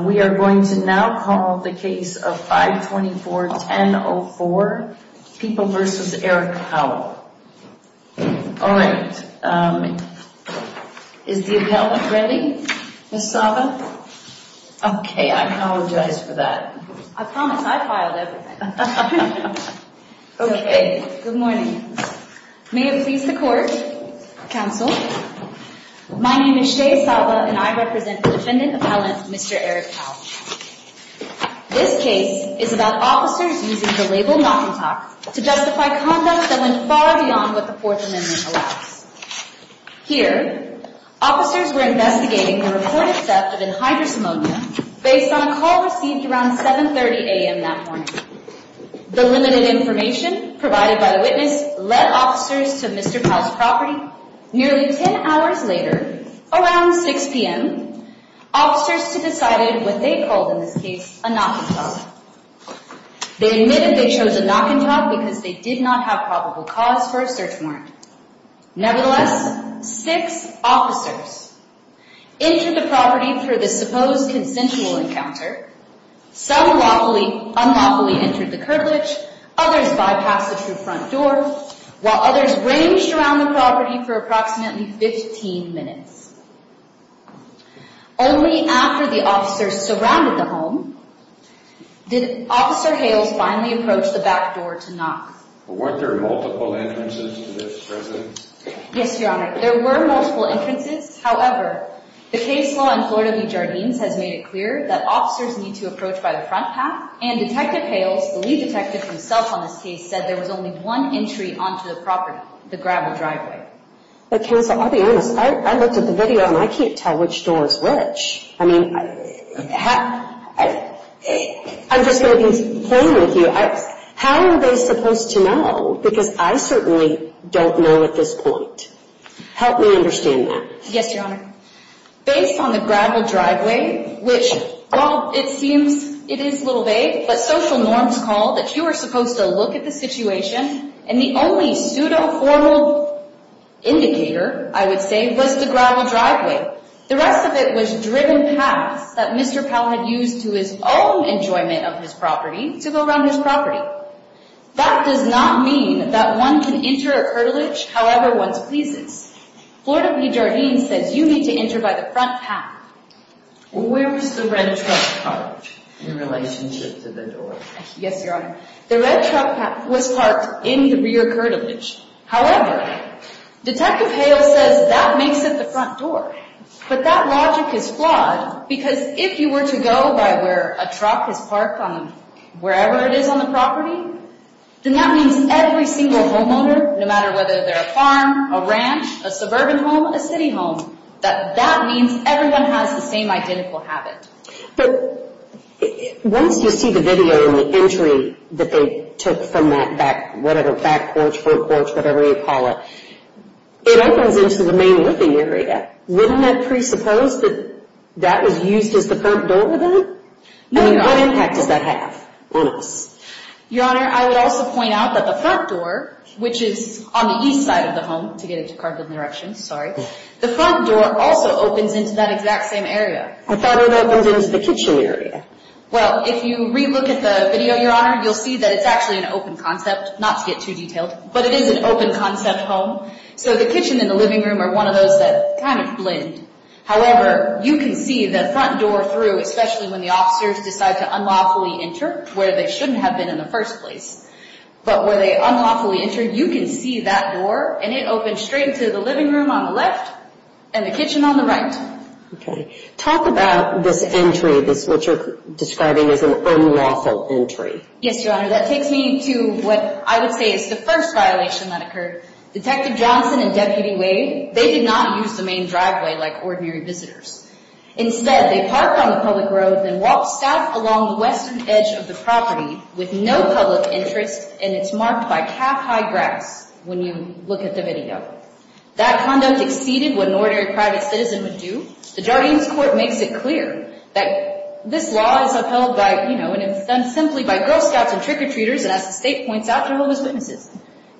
We are going to now call the case of 524-1004, People v. Eric Powell. Alright, is the appellant ready, Ms. Saba? Okay, I apologize for that. I promise, I filed everything. Okay, good morning. May it please the court. Counsel. My name is Shea Saba, and I represent the defendant appellant, Mr. Eric Powell. This case is about officers using the label knock-and-talk to justify conduct that went far beyond what the Fourth Amendment allows. Here, officers were investigating the reported theft of an hydrosamonia based on a call received around 7.30 a.m. that morning. The limited information provided by the witness led officers to Mr. Powell's property. Nearly 10 hours later, around 6 p.m., officers decided what they called in this case a knock-and-talk. They admitted they chose a knock-and-talk because they did not have probable cause for a search warrant. Nevertheless, six officers entered the property through the supposed consensual encounter. Some unlawfully entered the curtilage, others bypassed the front door, while others ranged around the property for approximately 15 minutes. Only after the officers surrounded the home did Officer Hales finally approach the back door to knock. Weren't there multiple entrances to this residence? Yes, Your Honor. There were multiple entrances. However, the case law in Florida v. Jardines has made it clear that officers need to approach by the front path, and Detective Hales, the lead detective himself on this case, said there was only one entry onto the property, the gravel driveway. But, Counsel, I'll be honest. I looked at the video, and I can't tell which door is which. I mean, I'm just going to be plain with you. How are they supposed to know? Because I certainly don't know at this point. Help me understand that. Yes, Your Honor. Based on the gravel driveway, which, while it seems it is a little vague, but social norms call that you are supposed to look at the situation, and the only pseudo-formal indicator, I would say, was the gravel driveway. The rest of it was driven paths that Mr. Powell had used to his own enjoyment of his property to go around his property. That does not mean that one can enter a curtilage however one pleases. Florida v. Jardines says you need to enter by the front path. Where was the red truck parked in relationship to the door? Yes, Your Honor. The red truck was parked in the rear curtilage. However, Detective Hale says that makes it the front door. But that logic is flawed, because if you were to go by where a truck is parked, wherever it is on the property, then that means every single homeowner, no matter whether they're a farm, a ranch, a suburban home, a city home, that that means everyone has the same identical habit. But once you see the video and the entry that they took from that back, whatever back porch, front porch, whatever you call it, it opens into the main living area. Wouldn't that presuppose that that was used as the front door then? I mean, what impact does that have on us? Your Honor, I would also point out that the front door, which is on the east side of the home, to get it carved in the direction, sorry, the front door also opens into that exact same area. I thought it opens into the kitchen area. Well, if you re-look at the video, Your Honor, you'll see that it's actually an open concept, not to get too detailed, but it is an open concept home. So the kitchen and the living room are one of those that kind of blend. However, you can see the front door through, especially when the officers decide to unlawfully enter, where they shouldn't have been in the first place. But where they unlawfully enter, you can see that door, and it opens straight into the living room on the left and the kitchen on the right. Okay. Talk about this entry, what you're describing as an unlawful entry. Yes, Your Honor. That takes me to what I would say is the first violation that occurred. Detective Johnson and Deputy Wade, they did not use the main driveway like ordinary visitors. Instead, they parked on the public road and walked south along the western edge of the property with no public interest, and it's marked by calf-high grass when you look at the video. That conduct exceeded what an ordinary private citizen would do. The Jardines Court makes it clear that this law is upheld by, you know, and is done simply by Girl Scouts and trick-or-treaters, and as the State points out, they're homeless witnesses.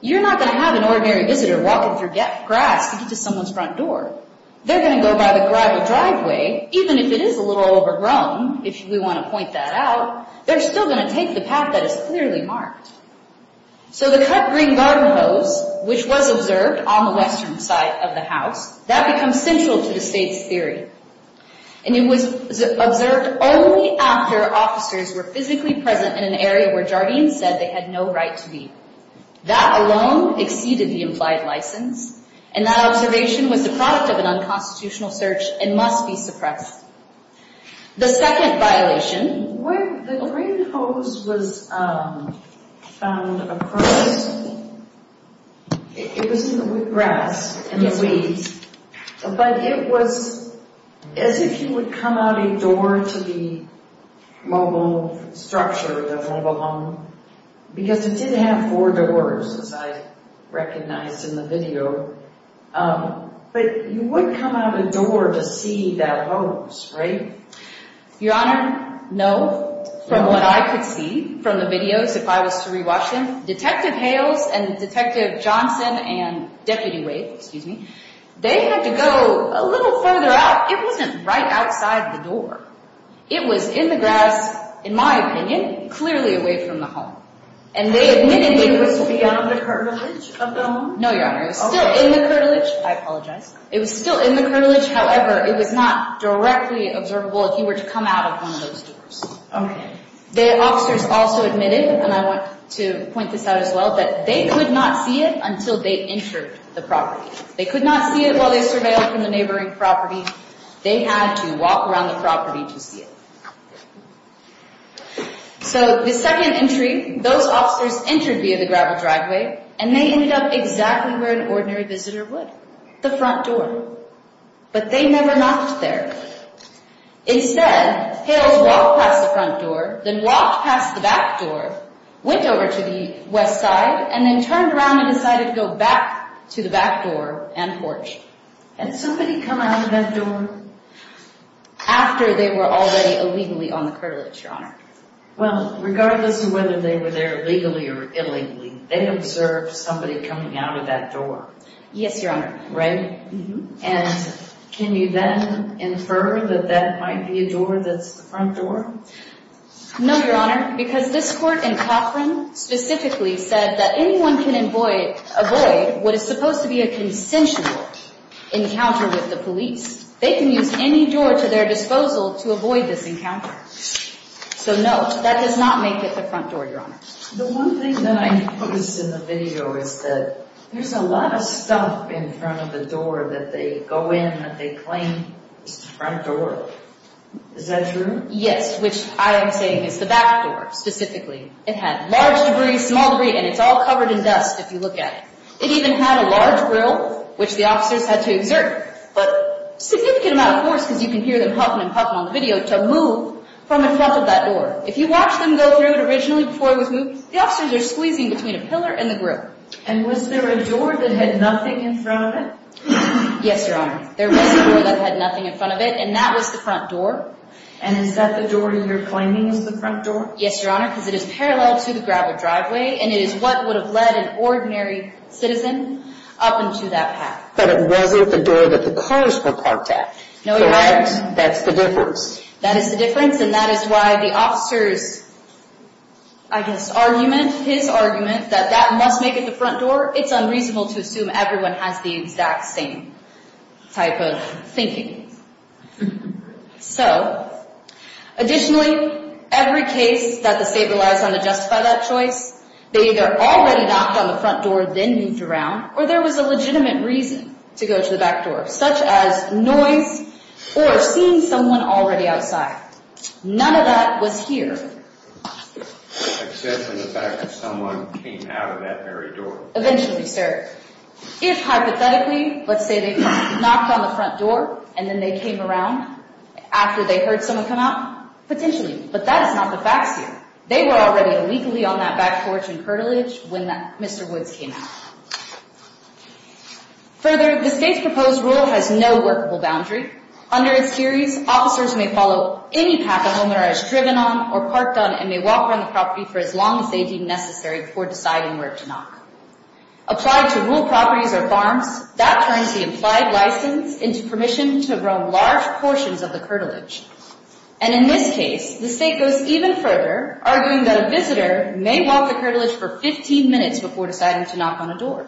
You're not going to have an ordinary visitor walking through grass to get to someone's front door. They're going to go by the driveway, even if it is a little overgrown, if we want to point that out. They're still going to take the path that is clearly marked. So the cut green garden hose, which was observed on the western side of the house, that becomes central to the State's theory, and it was observed only after officers were physically present in an area where Jardines said they had no right to be. That alone exceeded the implied license, and that observation was the product of an unconstitutional search and must be suppressed. The second violation. When the green hose was found across, it was in the grass, in the weeds, but it was as if you would come out a door to the mobile structure, the mobile home, because it did have four doors, as I recognized in the video, but you wouldn't come out a door to see that hose, right? Your Honor, no. From what I could see from the videos, if I was to rewatch them, Detective Hales and Detective Johnson and Deputy Wade, excuse me, they had to go a little further out. It wasn't right outside the door. It was in the grass, in my opinion, clearly away from the home, and they admitted they could see it. It was beyond the hermitage of the home? No, Your Honor. It was still in the hermitage. I apologize. It was still in the hermitage. However, it was not directly observable if you were to come out of one of those doors. The officers also admitted, and I want to point this out as well, that they could not see it until they entered the property. They could not see it while they surveilled from the neighboring property. They had to walk around the property to see it. So the second entry, those officers entered via the gravel driveway, and they ended up exactly where an ordinary visitor would, the front door. But they never knocked there. Instead, Hales walked past the front door, then walked past the back door, went over to the west side, and then turned around and decided to go back to the back door and porch. Had somebody come out of that door? After they were already illegally on the curtilage, Your Honor. Well, regardless of whether they were there legally or illegally, they observed somebody coming out of that door. Yes, Your Honor. Right? And can you then infer that that might be a door that's the front door? No, Your Honor, because this court in Cochran specifically said that anyone can avoid what is supposed to be a consensual encounter with the police. They can use any door to their disposal to avoid this encounter. So no, that does not make it the front door, Your Honor. The one thing that I noticed in the video is that there's a lot of stuff in front of the door that they go in that they claim is the front door. Is that true? Yes, which I am saying is the back door specifically. It had large debris, small debris, and it's all covered in dust if you look at it. It even had a large grill, which the officers had to exert a significant amount of force, because you can hear them huffing and puffing on the video, to move from in front of that door. If you watch them go through it originally before it was moved, the officers are squeezing between a pillar and the grill. And was there a door that had nothing in front of it? Yes, Your Honor. There was a door that had nothing in front of it, and that was the front door. And is that the door you're claiming is the front door? Yes, Your Honor, because it is parallel to the gravel driveway, and it is what would have led an ordinary citizen up into that path. But it wasn't the door that the cars were parked at. Correct. That's the difference. That is the difference, and that is why the officer's, I guess, argument, his argument that that must make it the front door, it's unreasonable to assume everyone has the exact same type of thinking. So, additionally, every case that the state relies on to justify that choice, they either already knocked on the front door, then moved around, or there was a legitimate reason to go to the back door, such as noise or seeing someone already outside. None of that was here. Except for the fact that someone came out of that very door. Eventually, sir. If, hypothetically, let's say they knocked on the front door and then they came around after they heard someone come out, potentially, but that is not the facts here. They were already illegally on that back porch and curtilage when Mr. Woods came out. Further, the state's proposed rule has no workable boundary. Under its theories, officers may follow any path a homeowner has driven on or parked on and may walk around the property for as long as they deem necessary before deciding where to knock. Applied to rural properties or farms, that turns the implied license into permission to roam large portions of the curtilage. And in this case, the state goes even further, arguing that a visitor may walk the curtilage for 15 minutes before deciding to knock on a door.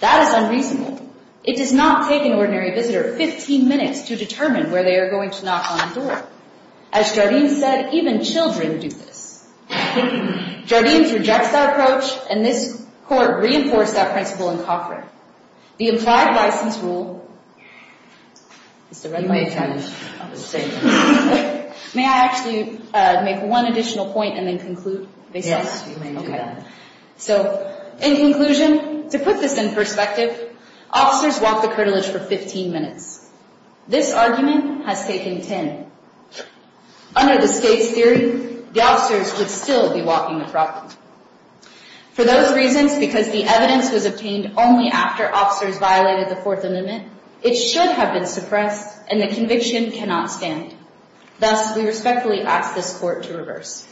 That is unreasonable. It does not take an ordinary visitor 15 minutes to determine where they are going to knock on a door. As Jardines said, even children do this. Jardines rejects that approach, and this court reinforced that principle in Cochran. The implied license rule... May I actually make one additional point and then conclude? Yes, you may do that. So, in conclusion, to put this in perspective, officers walk the curtilage for 15 minutes. This argument has taken 10. Under the state's theory, the officers would still be walking the property. For those reasons, because the evidence was obtained only after officers violated the Fourth Amendment, it should have been suppressed, and the conviction cannot stand. Thus, we respectfully ask this court to reverse.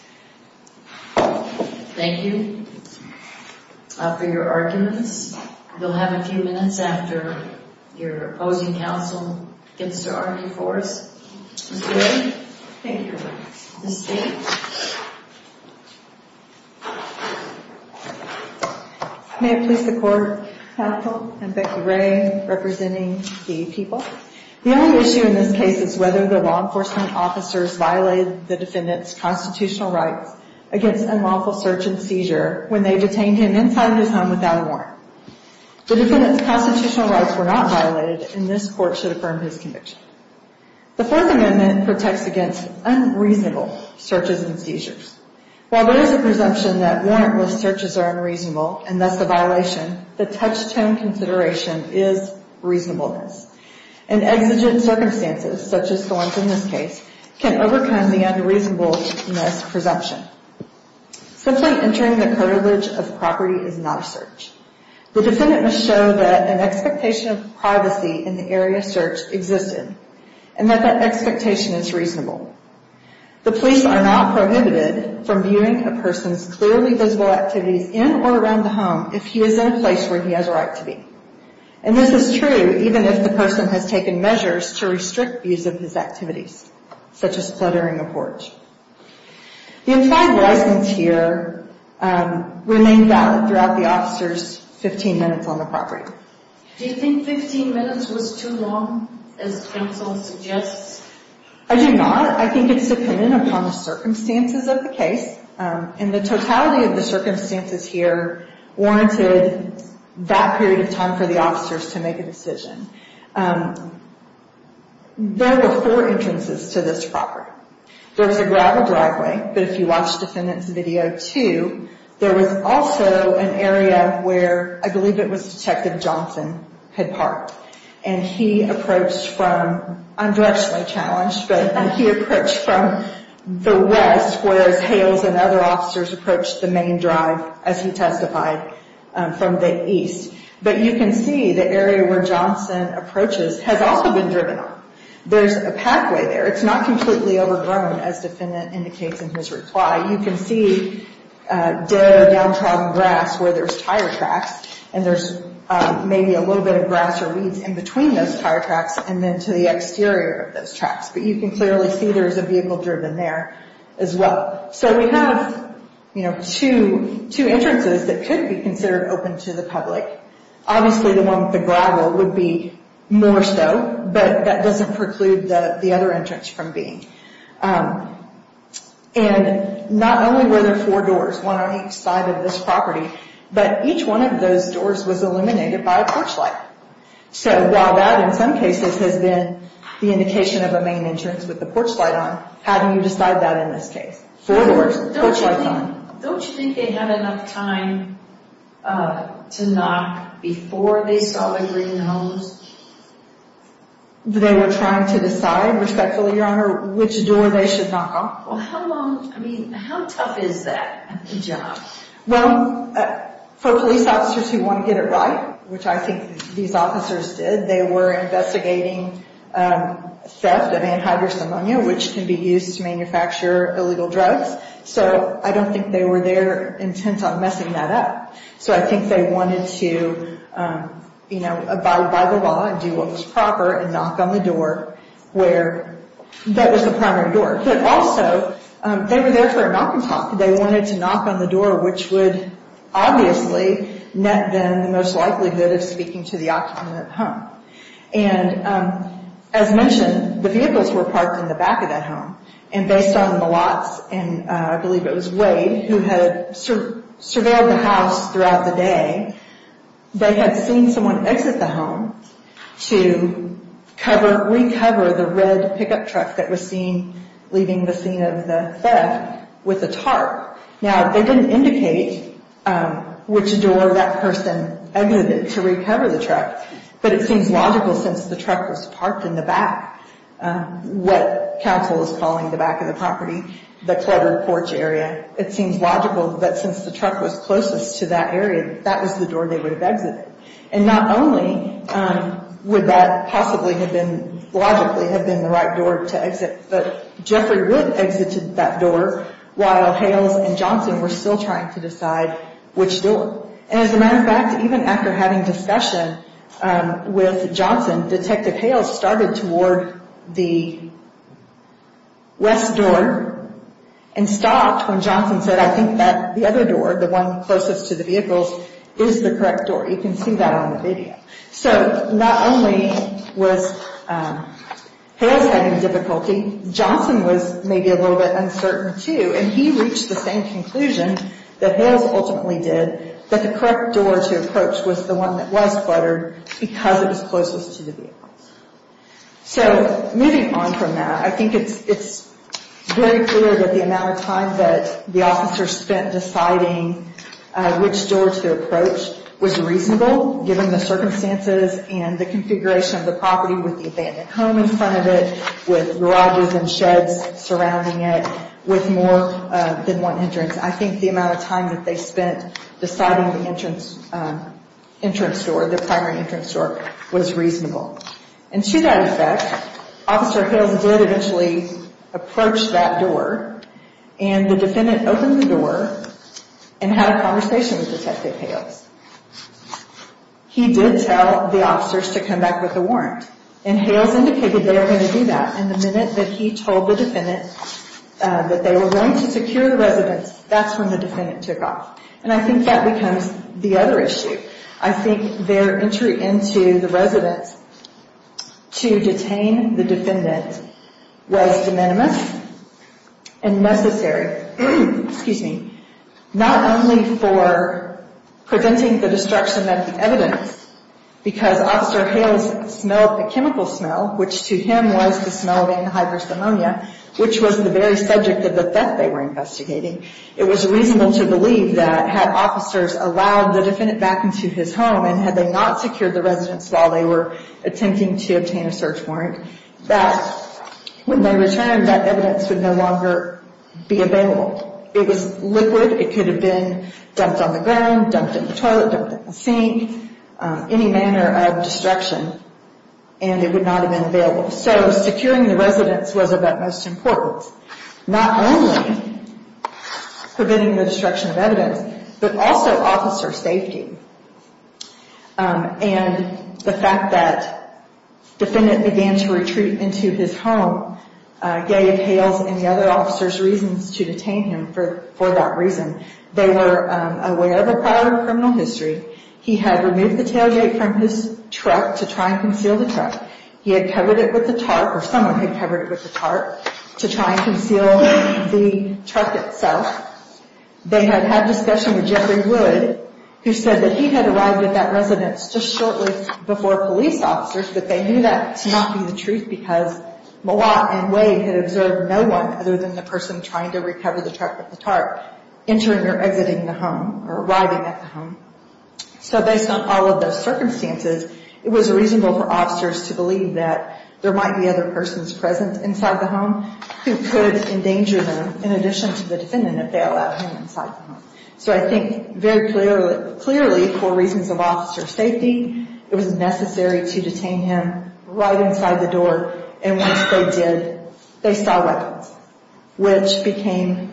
Thank you for your arguments. You'll have a few minutes after your opposing counsel gets to argue for us. Mr. Wade? Thank you. Ms. Steele? May it please the Court, Counsel and Becky Ray representing the people. The only issue in this case is whether the law enforcement officers violated the defendant's constitutional rights against unlawful search and seizure when they detained him inside his home without a warrant. The defendant's constitutional rights were not violated, and this court should affirm his conviction. The Fourth Amendment protects against unreasonable searches and seizures. While there is a presumption that warrantless searches are unreasonable, and thus a violation, the touchstone consideration is reasonableness. And exigent circumstances, such as the ones in this case, can overcome the unreasonableness presumption. Simply entering the curtilage of property is not a search. The defendant must show that an expectation of privacy in the area of search existed, and that that expectation is reasonable. The police are not prohibited from viewing a person's clearly visible activities in or around the home if he is in a place where he has a right to be. And this is true even if the person has taken measures to restrict views of his activities, such as fluttering a porch. The implied license here remained valid throughout the officer's 15 minutes on the property. Do you think 15 minutes was too long, as counsel suggests? I do not. I think it's dependent upon the circumstances of the case, and the totality of the circumstances here warranted that period of time for the officers to make a decision. There were four entrances to this property. There was a gravel driveway, but if you watched the defendant's video, too, there was also an area where I believe it was Detective Johnson had parked. And he approached from—I'm directionally challenged, but— he approached from the west, whereas Hales and other officers approached the main drive, as he testified, from the east. But you can see the area where Johnson approaches has also been driven on. There's a pathway there. It's not completely overgrown, as the defendant indicates in his reply. You can see dead or downtrodden grass where there's tire tracks, and there's maybe a little bit of grass or weeds in between those tire tracks and then to the exterior of those tracks. But you can clearly see there's a vehicle driven there as well. So we have, you know, two entrances that could be considered open to the public. Obviously, the one with the gravel would be more so, but that doesn't preclude the other entrance from being. And not only were there four doors, one on each side of this property, but each one of those doors was illuminated by a porch light. So while that in some cases has been the indication of a main entrance with the porch light on, how do you decide that in this case? Four doors, porch lights on. Don't you think they had enough time to knock before they saw the green hose? They were trying to decide, respectfully, Your Honor, which door they should knock on. Well, how long, I mean, how tough is that job? Well, for police officers who want to get it right, which I think these officers did, they were investigating theft of antihydrocemonia, which can be used to manufacture illegal drugs. So I don't think they were there intent on messing that up. So I think they wanted to, you know, abide by the law and do what was proper and knock on the door where that was the primary door. But also, they were there for a knock and talk. They wanted to knock on the door, which would obviously net them the most likelihood of speaking to the occupant at home. And as mentioned, the vehicles were parked in the back of that home. And based on the lots, and I believe it was Wade who had surveilled the house throughout the day, they had seen someone exit the home to recover the red pickup truck that was seen leaving the scene of the theft with a tarp. Now, they didn't indicate which door that person exited to recover the truck, but it seems logical since the truck was parked in the back, what counsel is calling the back of the property, the cluttered porch area, it seems logical that since the truck was closest to that area, that was the door they would have exited. And not only would that possibly have been, logically, have been the right door to exit, but Jeffrey would have exited that door while Hales and Johnson were still trying to decide which door. And as a matter of fact, even after having discussion with Johnson, Detective Hales started toward the west door and stopped when Johnson said, I think that the other door, the one closest to the vehicles, is the correct door. You can see that on the video. So not only was Hales having difficulty, Johnson was maybe a little bit uncertain too, and he reached the same conclusion that Hales ultimately did, that the correct door to approach was the one that was cluttered because it was closest to the vehicles. So moving on from that, I think it's very clear that the amount of time that the officers spent deciding which door to approach was reasonable, given the circumstances and the configuration of the property with the abandoned home in front of it, with garages and sheds surrounding it, with more than one entrance. I think the amount of time that they spent deciding the entrance door, the primary entrance door, was reasonable. And to that effect, Officer Hales did eventually approach that door, and the defendant opened the door and had a conversation with Detective Hales. He did tell the officers to come back with a warrant, and Hales indicated they were going to do that. And the minute that he told the defendant that they were going to secure the residence, that's when the defendant took off. And I think that becomes the other issue. I think their entry into the residence to detain the defendant was de minimis and necessary, not only for preventing the destruction of the evidence, because Officer Hales smelled a chemical smell, which to him was the smell of anhydrous ammonia, which was the very subject of the theft they were investigating. It was reasonable to believe that had officers allowed the defendant back into his home and had they not secured the residence while they were attempting to obtain a search warrant, that when they returned, that evidence would no longer be available. It was liquid. It could have been dumped on the ground, dumped in the toilet, dumped in the sink, any manner of destruction, and it would not have been available. So securing the residence was of utmost importance, not only preventing the destruction of evidence, but also officer safety. And the fact that the defendant began to retreat into his home gave Hales and the other officers reasons to detain him for that reason. They were aware of a prior criminal history. He had removed the tailgate from his truck to try and conceal the truck. He had covered it with a tarp, or someone had covered it with a tarp, to try and conceal the truck itself. They had had discussion with Jeffrey Wood, who said that he had arrived at that residence just shortly before police officers, but they knew that to not be the truth because Mouaw and Wade had observed no one other than the person trying to recover the truck with the tarp entering or exiting the home, or arriving at the home. So based on all of those circumstances, it was reasonable for officers to believe that there might be other persons present inside the home who could endanger them, in addition to the defendant, if they allowed him inside the home. So I think very clearly, for reasons of officer safety, it was necessary to detain him right inside the door, and once they did, they saw weapons, which became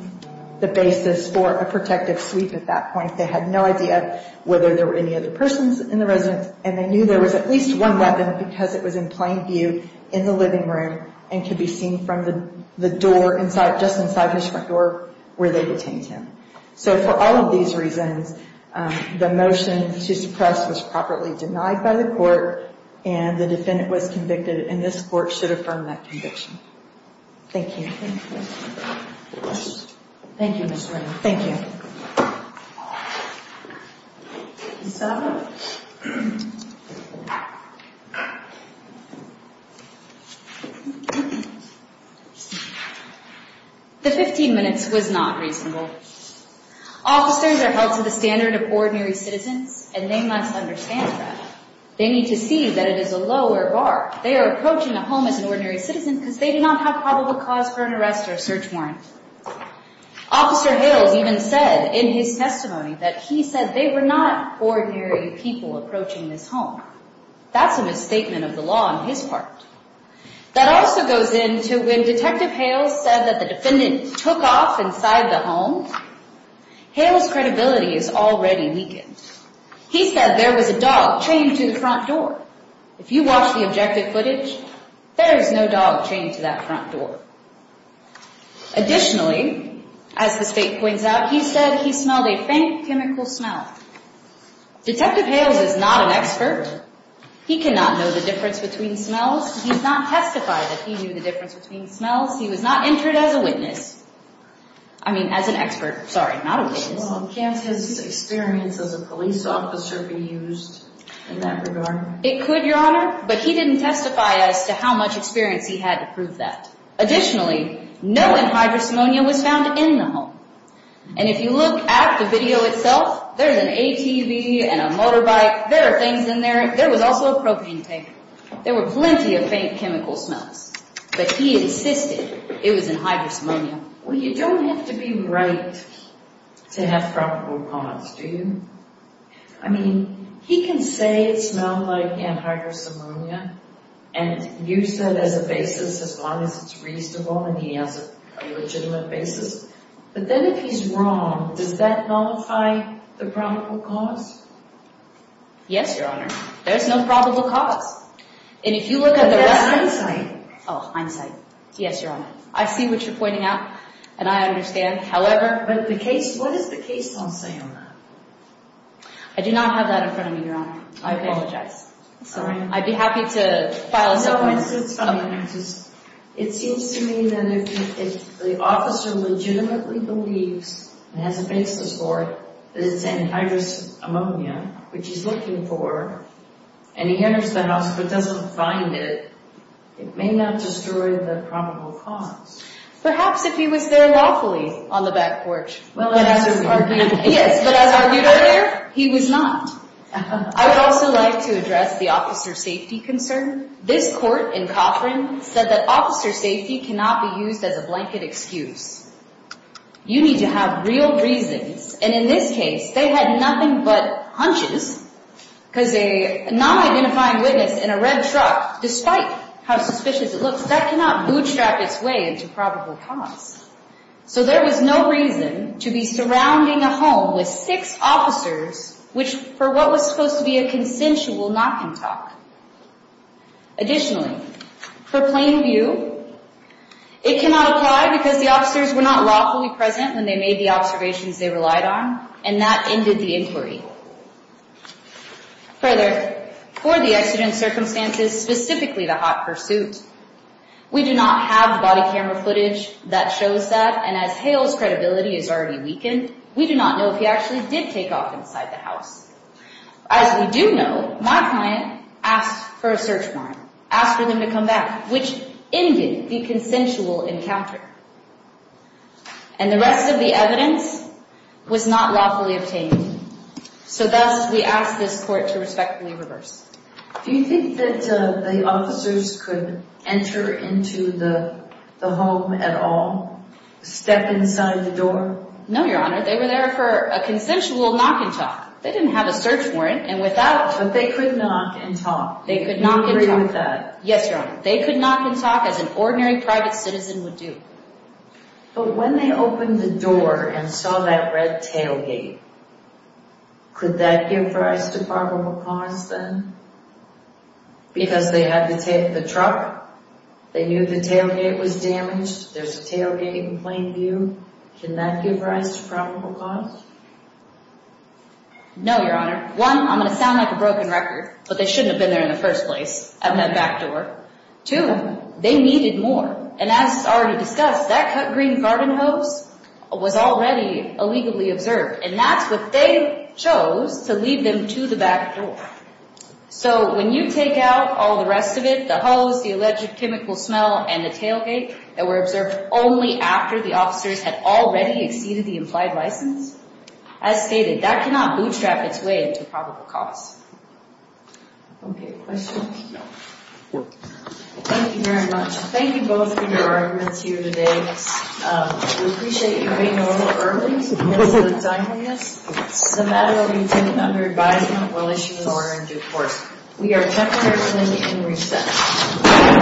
the basis for a protective sweep at that point. They had no idea whether there were any other persons in the residence, and they knew there was at least one weapon because it was in plain view in the living room and could be seen from the door inside, just inside his front door, where they detained him. So for all of these reasons, the motion to suppress was properly denied by the court, and the defendant was convicted, and this court should affirm that conviction. Thank you. Thank you, Ms. Ray. Thank you. The 15 minutes was not reasonable. Officers are held to the standard of ordinary citizens, and they must understand that. They need to see that it is a lower bar. They are approaching a home as an ordinary citizen because they do not have probable cause for an arrest or a search warrant. Officer Hales even said in his testimony that he said they were not ordinary people approaching this home. That's a misstatement of the law on his part. That also goes into when Detective Hales said that the defendant took off inside the home, Hales' credibility is already weakened. He said there was a dog chained to the front door. If you watch the objective footage, there is no dog chained to that front door. Additionally, as the state points out, he said he smelled a faint chemical smell. Detective Hales is not an expert. He cannot know the difference between smells. He's not testified that he knew the difference between smells. He was not entered as a witness. I mean, as an expert. Sorry, not a witness. Can't his experience as a police officer be used in that regard? It could, Your Honor, but he didn't testify as to how much experience he had to prove that. Additionally, no antidepressant was found in the home. And if you look at the video itself, there's an ATV and a motorbike. There are things in there. There was also a propane tank. There were plenty of faint chemical smells. But he insisted it was antihydrosomonia. Well, you don't have to be right to have probable cause, do you? I mean, he can say it smelled like antihydrosomonia and use that as a basis as long as it's reasonable and he has a legitimate basis. But then if he's wrong, does that nullify the probable cause? Yes, Your Honor. There's no probable cause. But that's hindsight. Oh, hindsight. Yes, Your Honor. I see what you're pointing out, and I understand. But what does the case law say on that? I do not have that in front of me, Your Honor. I apologize. Sorry. I'd be happy to file a separate case. It seems to me that if the officer legitimately believes and has a basis for that it's antihydrosomonia, which he's looking for, and he enters the house but doesn't find it, it may not destroy the probable cause. Perhaps if he was there lawfully on the back porch. Yes, but as argued earlier, he was not. I would also like to address the officer's safety concern. This court in Coffrin said that officer safety cannot be used as a blanket excuse. You need to have real reasons. And in this case, they had nothing but hunches because a non-identifying witness in a red truck, despite how suspicious it looks, that cannot bootstrap its way into probable cause. So there was no reason to be surrounding a home with six officers which, for what was supposed to be a consensual knock and talk. Additionally, for plain view, it cannot apply because the officers were not lawfully present when they made the observations they relied on, and that ended the inquiry. Further, for the accident circumstances, specifically the hot pursuit, we do not have body camera footage that shows that, and as Hale's credibility is already weakened, we do not know if he actually did take off inside the house. As we do know, my client asked for a search warrant, asked for them to come back, which ended the consensual encounter. And the rest of the evidence was not lawfully obtained. So thus, we ask this court to respectfully reverse. Do you think that the officers could enter into the home at all? Step inside the door? No, Your Honor, they were there for a consensual knock and talk. They didn't have a search warrant, and without... But they could knock and talk. They could knock and talk. Do you agree with that? Yes, Your Honor. They could knock and talk as an ordinary private citizen would do. But when they opened the door and saw that red tailgate, could that give rise to probable cause then? Because they had the truck, they knew the tailgate was damaged, there's a tailgate in plain view. Can that give rise to probable cause? No, Your Honor. One, I'm going to sound like a broken record, but they shouldn't have been there in the first place, out in that back door. Two, they needed more, and as is already discussed, that cut green garden hose was already illegally observed, and that's what they chose to leave them to the back door. So when you take out all the rest of it, the hose, the alleged chemical smell, and the tailgate, that were observed only after the officers had already exceeded the implied license, as stated, that cannot bootstrap its way into probable cause. Okay, questions? Thank you very much. Thank you both for your arguments here today. We appreciate you being a little early to get to the timing of this. The matter will continue under advisement. We'll issue an order in due course. We are temporarily in recess.